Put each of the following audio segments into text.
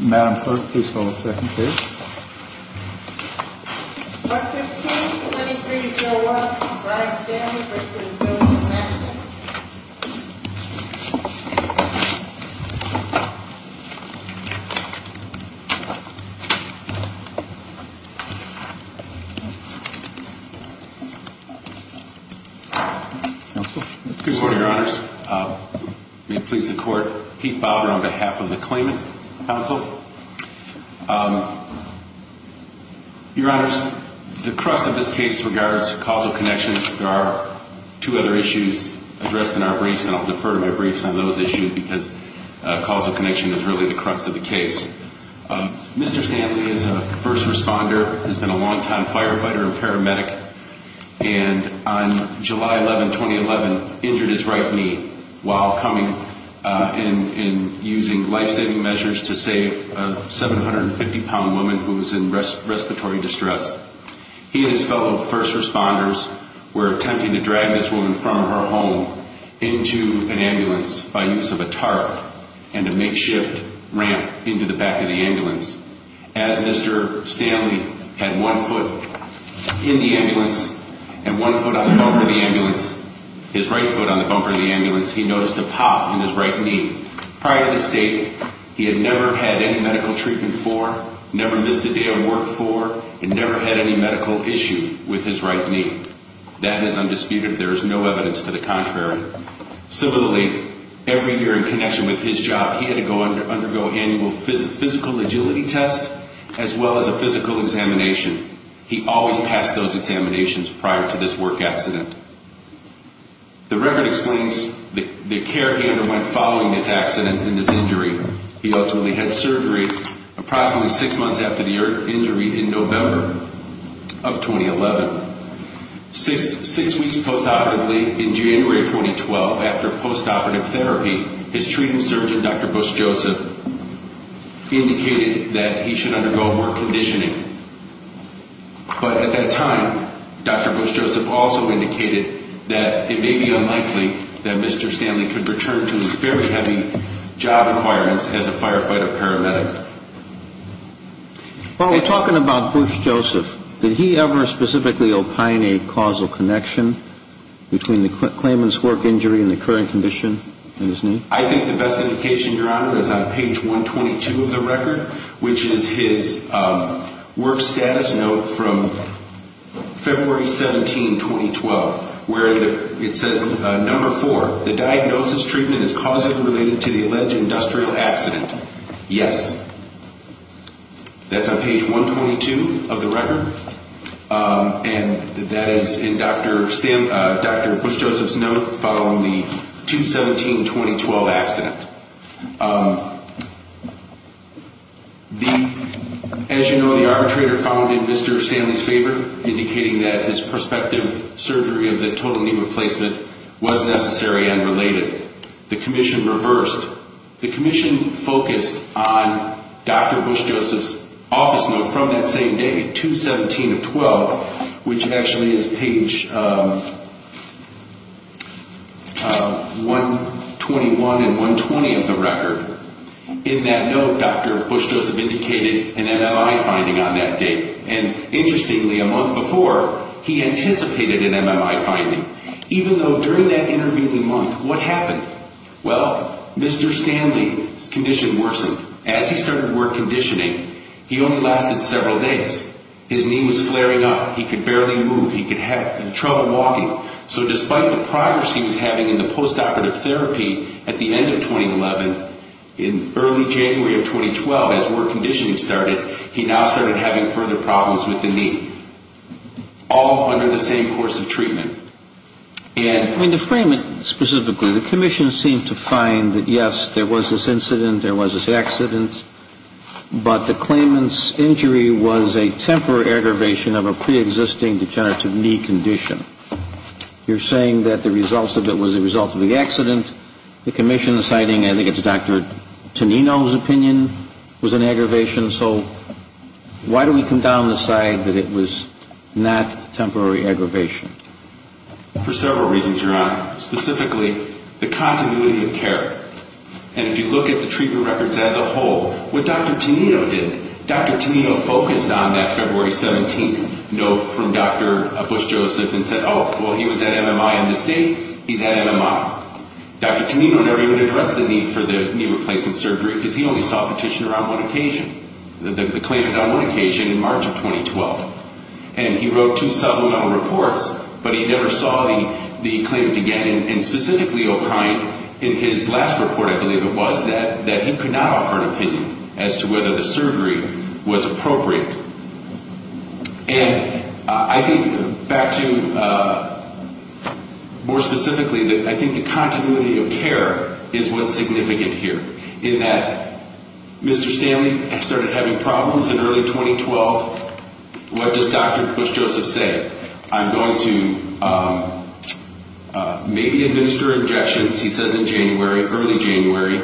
Madam Clerk, please hold the second case. Mark 15, 2301. Brian Stanley v. Bill and Madison. Good morning, Your Honors. May it please the Court, Pete Bowder on behalf of the Claimant Council. Your Honors, the crux of this case regards causal connections. There are two other issues addressed in our briefs, and I'll defer to my briefs on those issues because causal connection is really the crux of the case. Mr. Stanley is a first responder, has been a long-time firefighter and paramedic, and on July 11, 2011, injured his right knee while coming and using life-saving measures to save a 750-pound woman who was in respiratory distress. He and his fellow first responders were attempting to drag this woman from her home into an ambulance by use of a tarp and a makeshift ramp into the back of the ambulance. As Mr. Stanley had one foot in the ambulance and one foot on the bumper of the ambulance, his right foot on the bumper of the ambulance, he noticed a pop in his right knee. Prior to state, he had never had any medical treatment for, never missed a day of work for, and never had any medical issue with his right knee. That is undisputed. There is no evidence to the contrary. Similarly, every year in connection with his job, he had to undergo annual physical agility tests as well as a physical examination. He always passed those examinations prior to this work accident. The record explains the care he underwent following this accident and this injury. He ultimately had surgery approximately six months after the injury in November of 2011. Six weeks post-operatively in January of 2012, after post-operative therapy, his treating surgeon, Dr. Bush-Joseph, indicated that he should undergo more conditioning. But at that time, Dr. Bush-Joseph also indicated that it may be unlikely that Mr. Stanley could return to his very heavy job requirements as a firefighter paramedic. Well, we're talking about Bush-Joseph. Did he ever specifically opine a causal connection between the claimant's work injury and the current condition in his knee? I think the best indication, Your Honor, is on page 122 of the record, which is his work status note from February 17, 2012, where it says, number four, the diagnosis treatment is causally related to the alleged industrial accident. Yes. That's on page 122 of the record. And that is in Dr. Bush-Joseph's note following the 2-17-2012 accident. As you know, the arbitrator found in Mr. Stanley's favor, indicating that his prospective surgery of the total knee replacement was necessary and related. The commission reversed. The commission focused on Dr. Bush-Joseph's office note from that same day, 2-17-12, which is on page 122 of the record. In that note, Dr. Bush-Joseph indicated an MMI finding on that day. And interestingly, a month before, he anticipated an MMI finding. Even though during that intervening month, what happened? Well, Mr. Stanley's condition worsened. As he started work conditioning, he only lasted several days. His knee was flaring up. He could barely move. He could have trouble walking. So despite the progress he was having in the post-operative therapy at the end of 2011, in early January of 2012, as work conditioning started, he now started having further problems with the knee. All under the same course of treatment. And to frame it specifically, the commission seemed to find that, yes, there was this incident, there was this accident, but the claimant's injury was a temporary aggravation of a pre-existing degenerative knee condition. You're saying that the result of it was a result of the accident. The commission citing, I think it's Dr. Tonino's opinion, was an aggravation. So why do we come down and decide that it was not temporary aggravation? For several reasons, Your Honor. Specifically, the continuity of care. And if you look at the treatment records as a whole, what Dr. Tonino did, Dr. Tonino focused on, on that February 17th note from Dr. Bush-Joseph and said, oh, he was at MMI on this date, he's at MMI. Dr. Tonino never even addressed the need for the knee replacement surgery because he only saw the petitioner on one occasion, the claimant on one occasion in March of 2012. And he wrote two supplemental reports, but he never saw the claimant again. And specifically, O'Krine, in his last report, I believe it was, that he could not offer an opinion as to whether the surgery was appropriate. And I think, back to, more specifically, I think the continuity of care is what's significant here. In that Mr. Stanley had started having problems in early 2012, what does Dr. Bush-Joseph say? I'm going to maybe administer injections, he says in January, early January,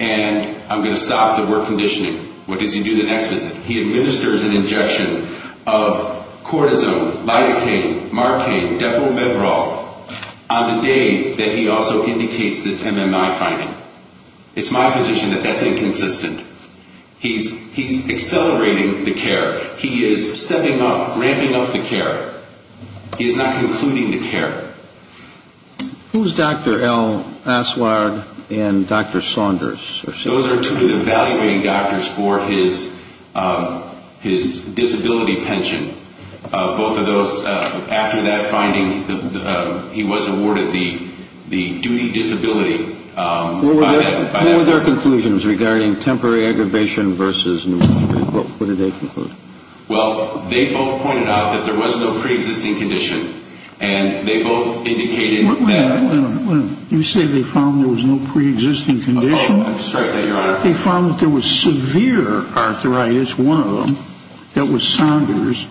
and I'm going to stop the work conditioning. What does he do the next visit? He administers an injection of cortisone, lidocaine, marcaine, deprimembrol, on the day that he also indicates this MMI finding. It's my position that that's inconsistent. He's accelerating the care. He is stepping up, ramping up the care. He is not concluding the care. Who's Dr. L. Aswad and Dr. Saunders? Those are two of the evaluating doctors for his disability pension. Both of those, after that finding, he was awarded the duty disability. What were their conclusions regarding temporary aggravation versus new surgery? What did they conclude? Well, they both pointed out that there was no pre-existing condition, and they both indicated that... Wait a minute, wait a minute. You say they found there was no pre-existing condition? Oh, I'm sorry, Your Honor. They found that there was severe arthritis, one of them, that was Saunders,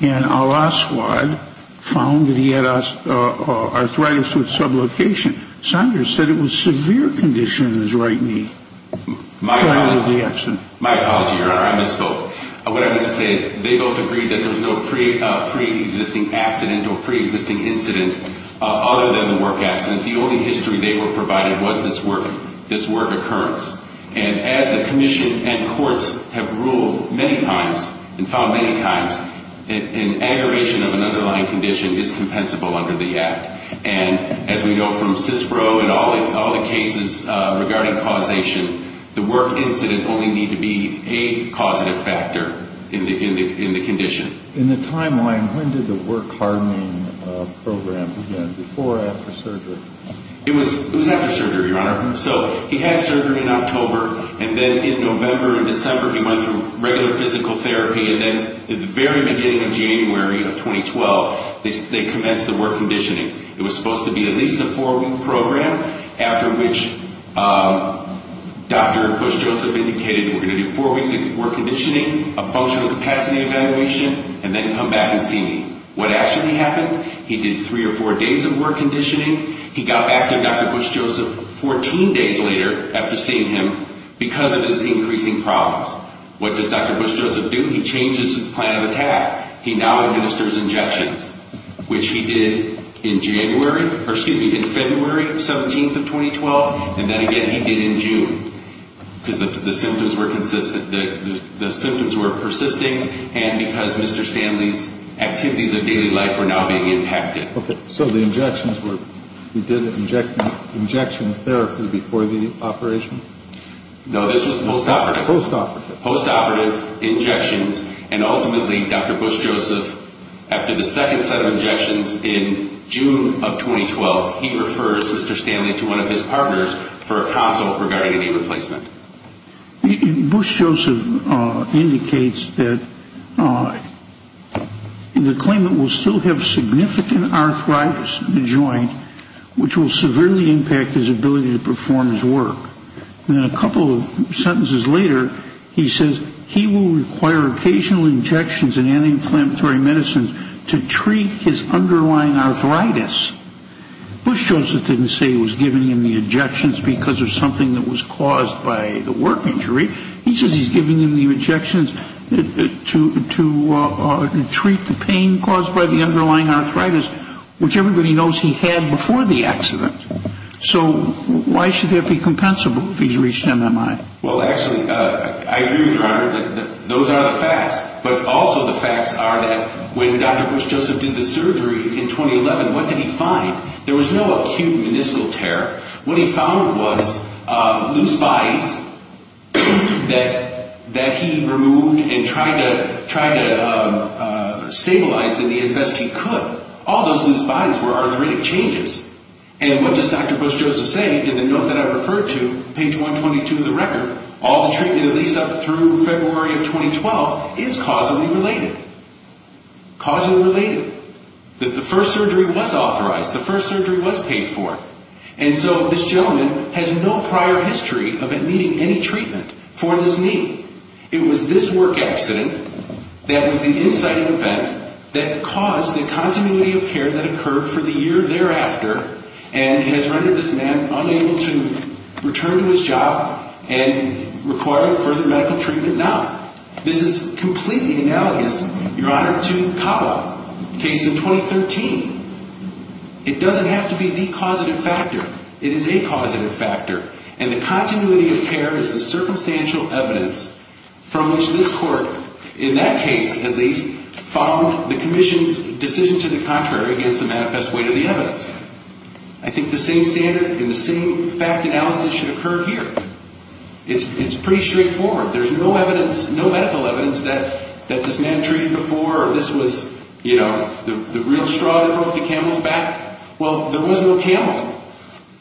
and L. Aswad found that he had arthritis with sublocation. Saunders said it was severe condition in his right knee. My apology, Your Honor, I misspoke. What I meant to say is they both agreed that there was no pre-existing accident or pre-existing incident other than the work accident. The only history they were provided was this work occurrence. And as the commission and courts have ruled many times and found many times, an aggravation of an underlying condition is compensable under the Act. And as we know from CISPRO and all the cases regarding causation, the work incident only need to be a causative factor in the condition. In the timeline, when did the work hardening program begin? Before or after surgery? It was after surgery, Your Honor. So he had surgery in October, and then in November and December, he went through regular physical therapy. And then at the very beginning of January of 2012, they commenced the work conditioning. It was supposed to be at least a four-week program, after which Dr. Bush-Joseph indicated, we're going to do four weeks of work conditioning, a functional capacity evaluation, and then come back and see me. What actually happened? He did three or four days of work conditioning. He got back to Dr. Bush-Joseph 14 days later after seeing him because of his increasing problems. What does Dr. Bush-Joseph do? He changes his plan of attack. He now administers injections, which he did in February 17th of 2012, and then again he did in June because the symptoms were persisting and because Mr. Stanley's activities of daily life were now being impacted. So the injections were... He did injection therapy before the operation? No, this was post-operative. Post-operative. Post-operative injections, and ultimately, Dr. Bush-Joseph, after the second set of injections in June of 2012, he refers Mr. Stanley to one of his partners for a consult regarding any replacement. Bush-Joseph indicates that the claimant will still have significant arthritis in the joint, which will severely impact his ability to perform his work. And then a couple of sentences later, he says he will require occasional injections and anti-inflammatory medicines to treat his underlying arthritis. Bush-Joseph didn't say he was giving him the injections because of something that was caused by the work injury. He says he's giving him the injections to treat the pain caused by the underlying arthritis, which everybody knows he had before the accident. So why should that be compensable if he's reached MMI? Well, actually, I agree, Your Honor, that those are the facts. But also the facts are that when Dr. Bush-Joseph did the surgery in 2011, what did he find? There was no acute meniscal tear. What he found was loose bodies that he removed and tried to stabilize as best he could. All those loose bodies were arthritic changes. And what does Dr. Bush-Joseph say? I did the note that I referred to, page 122 of the record. All the treatment, at least up through February of 2012, is causally related. Causally related. The first surgery was authorized. The first surgery was paid for. And so this gentleman has no prior history of it needing any treatment for this knee. It was this work accident that was the inciting event that caused the continuity of care that occurred for the year thereafter and has rendered this man unable to return to his job and require further medical treatment now. This is completely analogous, Your Honor, to Kawa, case in 2013. It doesn't have to be the causative factor. It is a causative factor. And the continuity of care is the circumstantial evidence from which this Court, in that case, at least, followed the Commission's decision to the contrary against the manifest weight of the evidence. I think the same standard and the same fact analysis should occur here. It's pretty straightforward. There's no medical evidence that this man treated before or this was, you know, the red straw that broke the camel's back. Well, there was no camel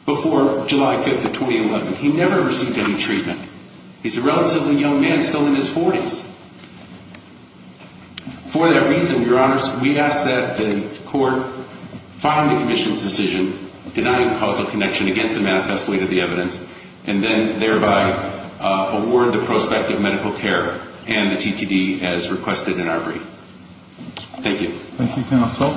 before July 5th of 2011. He never received any treatment. He's a relatively young man, still in his 40s. For that reason, Your Honor, we ask that the Court follow the Commission's decision denying the causal connection against the manifest weight of the evidence and then thereby award the prospect of medical care and the TTD as requested in our brief. Thank you. Thank you, counsel.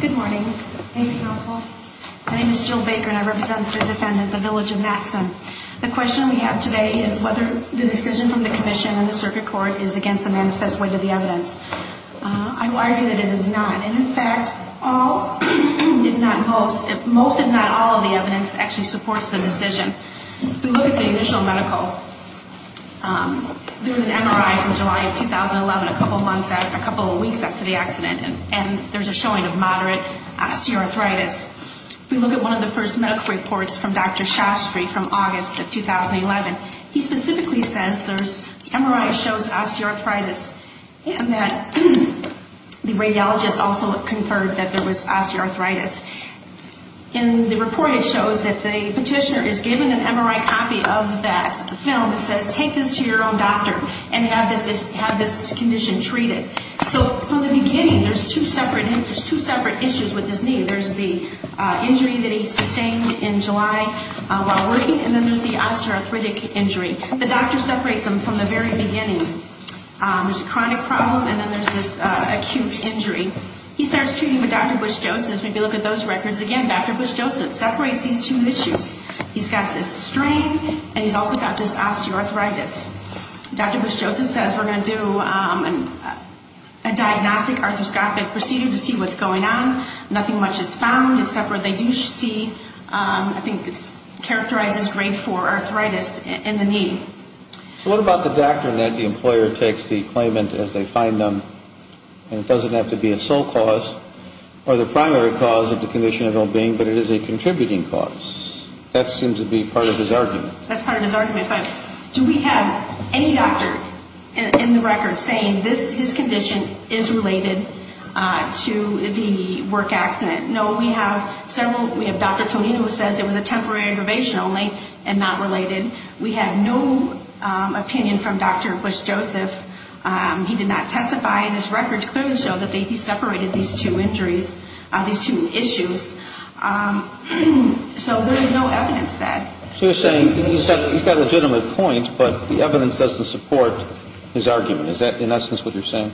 Good morning. My name is Jill Baker, and I represent the defendant, the village of Matson. The question we have today is whether the decision from the Commission and the Circuit Court is against the manifest weight of the evidence. I argue that it is not, and in fact, most, if not all, of the evidence actually supports the decision. If we look at the initial medical, there was an MRI from July of 2011 a couple of weeks after the accident, and there's a showing of moderate osteoarthritis. If we look at one of the first medical reports from Dr. Shastri from August of 2011, he specifically says, the MRI shows osteoarthritis and that the radiologist also confirmed that there was osteoarthritis. In the report, it shows that the petitioner is given an MRI copy of that film that says, take this to your own doctor and have this condition treated. So from the beginning, there's two separate issues with this knee. There's the injury that he sustained in July while working, and then there's the osteoarthritic injury. The doctor separates them from the very beginning. There's a chronic problem, and then there's this acute injury. He starts treating with Dr. Bush-Joseph. If you look at those records again, Dr. Bush-Joseph separates these two issues. He's got this strain, and he's also got this osteoarthritis. Dr. Bush-Joseph says, we're going to do a diagnostic arthroscopic procedure to see what's going on. Nothing much is found, except for they do see, I think it's characterized as grade 4 arthritis in the knee. So what about the doctrine that the employer takes the claimant as they find them, and it doesn't have to be a sole cause or the primary cause of the condition and well-being, but it is a contributing cause? That seems to be part of his argument. That's part of his argument, but do we have any doctor in the record saying his condition is related to the work accident? No, we have several. We have Dr. Tonino who says it was a temporary aggravation only and not related. We have no opinion from Dr. Bush-Joseph. He did not testify, and his records clearly show that he separated these two injuries, these two issues. So there is no evidence that. So you're saying he's got legitimate points, but the evidence doesn't support his argument. Is that in essence what you're saying?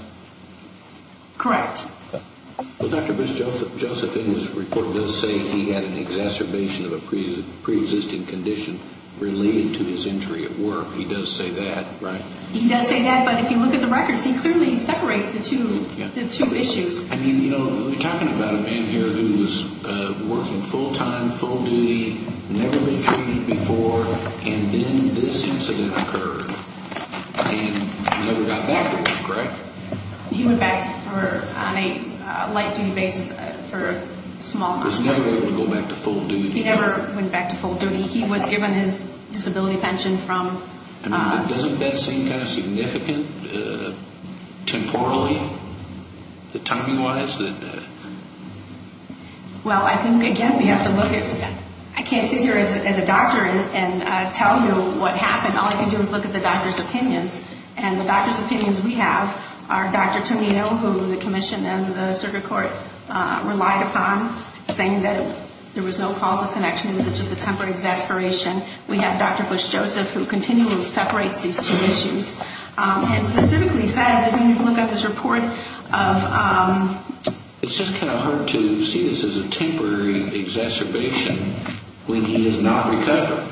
Correct. But Dr. Bush-Joseph, in his report, does say he had an exacerbation of a pre-existing condition related to his injury at work. He does say that, right? He does say that, but if you look at the records, he clearly separates the two issues. We're talking about a man here who was working full-time, full-duty, never been treated before, and then this incident occurred and never got back to work, correct? He went back on a light-duty basis for a small amount of time. He was never able to go back to full-duty. He never went back to full-duty. He was given his disability pension from... Doesn't that seem kind of significant? Temporally? The timing-wise? Well, I think, again, we have to look at... I can't sit here as a doctor and tell you what happened. All I can do is look at the doctor's opinions. And the doctor's opinions we have are Dr. Tonino, who the Commission and the Circuit Court relied upon, saying that there was no causal connection, it was just a temporary exasperation. We have Dr. Bush-Joseph, who continually separates these two issues, and specifically says, if you look at his report, it's just kind of hard to see this as a temporary exasperation when he has not recovered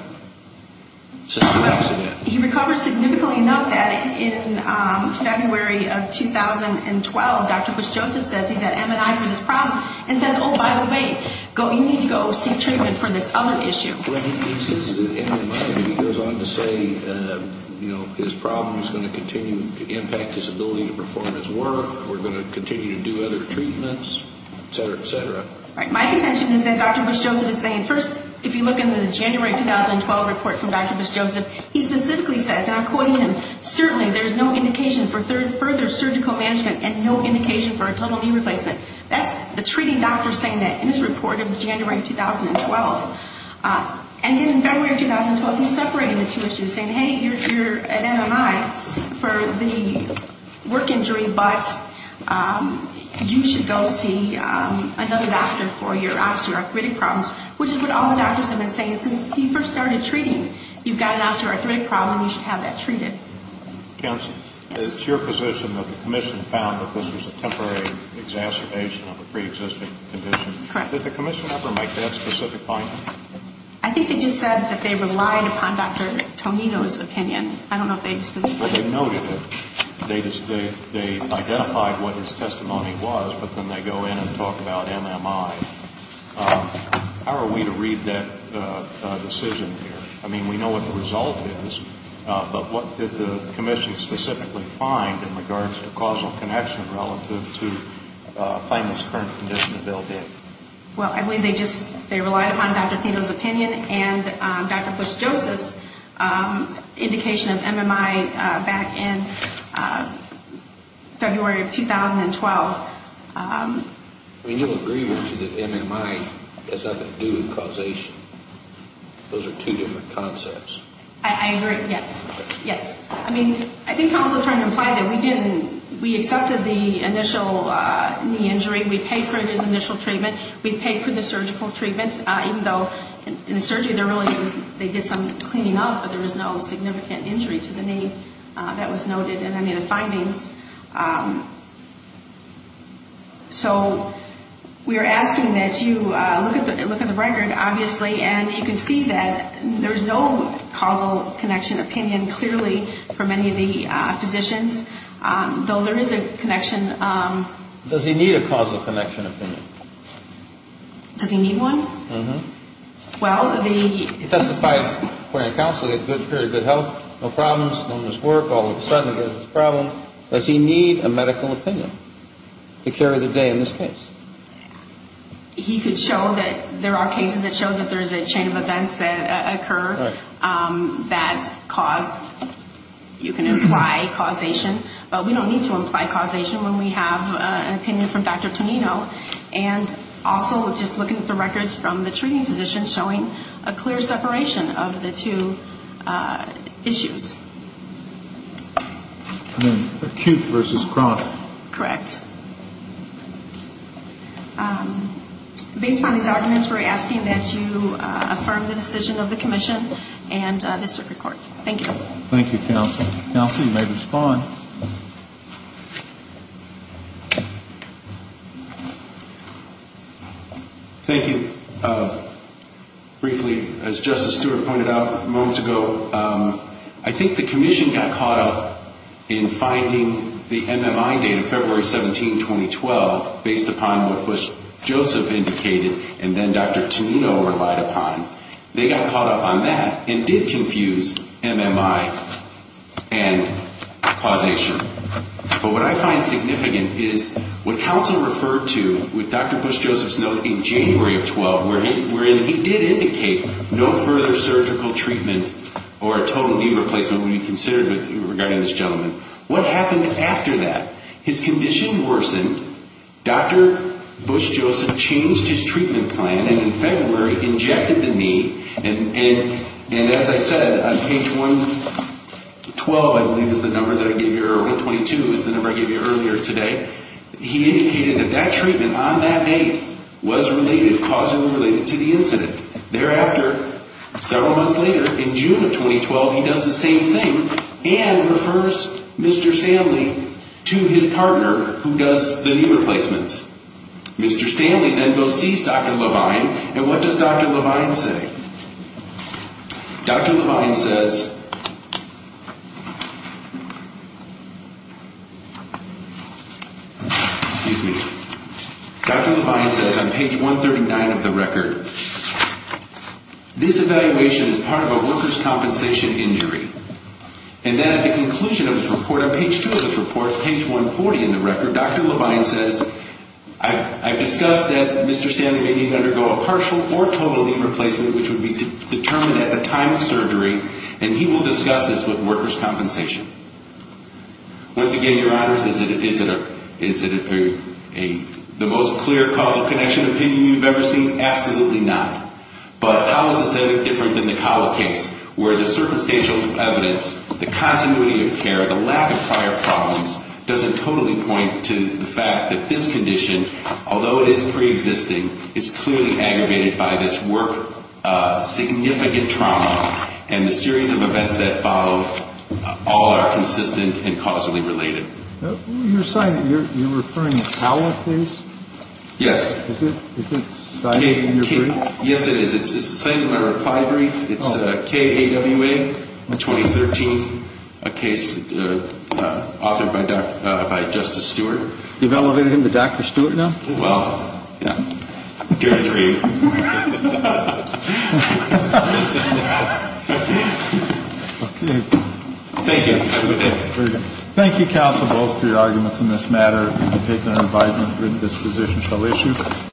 since the accident. He recovered significantly enough that in February of 2012, Dr. Bush-Joseph says he's at MNI for this problem and says, oh, by the way, you need to go seek treatment for this other issue. He says he's at MNI, but he goes on to say his problem is going to continue to impact his ability to perform his work, we're going to continue to do other treatments, etc., etc. My contention is that Dr. Bush-Joseph is saying, first, if you look into the January 2012 report from Dr. Bush-Joseph, he specifically says, and I'm quoting him, certainly there's no indication for further surgical management and no indication for a total knee replacement. That's the treating doctor saying that in his report in January 2012. And then in February 2012, he's separating the two issues, saying, hey, you're at MNI for the work injury, but you should go see another doctor for your osteoarthritic problems, which is what all the doctors have been saying since he first started treating. You've got an osteoarthritic problem, you should have that treated. Counsel, it's your position that the Commission found that this was a temporary exacerbation of a preexisting condition. Correct. Did the Commission ever make that specific finding? I think they just said that they relied upon Dr. Tonino's opinion. I don't know if they specifically... But they noted it. They identified what his testimony was, but then they go in and talk about MMI. How are we to read that decision here? I mean, we know what the result is, but what did the Commission specifically find in regards to causal connection relative to what the claimant's current condition of ill did? Well, I believe they relied upon Dr. Tonino's opinion and Dr. Bush-Joseph's indication of MMI back in February of 2012. I mean, you'll agree with me that MMI has nothing to do with causation. Those are two different concepts. I agree, yes. I mean, I think Counsel Turner implied that we didn't... We paid for his surgery. We paid for his initial treatment. We paid for the surgical treatments, even though in the surgery, they did some cleaning up, but there was no significant injury to the knee that was noted in any of the findings. So we are asking that you look at the record, obviously, and you can see that there's no causal connection opinion, clearly, for many of the physicians. Though there is a connection... Does he need a causal connection opinion? Does he need one? Well, the... He testified, according to counsel, he had a good period, good health, no problems, no miswork, all of a sudden he has this problem. Does he need a medical opinion to carry the day in this case? He could show that there are cases that show that there's a chain of events that occur that cause... We don't need to imply causation when we have an opinion from Dr. Tonino and also just looking at the records from the treating physician showing a clear separation of the two issues. Acute versus chronic? Correct. Based on these arguments, we're asking that you affirm the decision of the commission and the circuit court. Thank you. Thank you, counsel. Counsel, you may respond. Thank you. Briefly, as Justice Stewart pointed out moments ago, I think the commission got caught up in finding the MMI data February 17, 2012 based upon what Joseph indicated and then Dr. Tonino relied upon. They got caught up on that and did confuse MMI and causation. But what I find significant is what counsel referred to with Dr. Bush-Joseph's note in January of 12, wherein he did indicate no further surgical treatment or a total knee replacement would be considered regarding this gentleman. What happened after that? His condition worsened, Dr. Bush-Joseph changed his treatment plan and in February injected the knee and as I said on page 112 I believe is the number that I gave you or 122 is the number I gave you earlier today he indicated that that treatment on that day was related, causally related to the incident. Thereafter, several months later, in June of 2012, he does the same thing and refers Mr. Stanley to his partner who does the knee replacements. Mr. Stanley then goes sees Dr. Levine and what does Dr. Levine say? Dr. Levine says excuse me Dr. Levine says on page 139 of the record this evaluation is part of a workers' compensation injury and then at the conclusion of his report, on page 2 of his report page 140 in the record, Dr. Levine says I've discussed that Mr. Stanley may need to undergo a partial or total knee replacement which would be determined at the time of surgery and he will discuss this with workers' compensation Once again, your honors, is it the most clear causal connection opinion you've ever seen? Absolutely not but how is this any different than the Kala case where the circumstantial evidence, the continuity of care the lack of prior problems doesn't totally point to the fact that this condition, although it is pre-existing, is clearly aggravated by this work significant trauma and the series of events that follow all are consistent and causally related You're referring to Kala case? Yes Is it cited in your brief? Yes, it is. It's cited in my reply brief It's K-A-W-A 2013 a case authored by Justice Stewart You've elevated him to Dr. Stewart now? Well, yeah. Thank you Thank you counsel both for your arguments in this matter and for taking our advice on this positional issue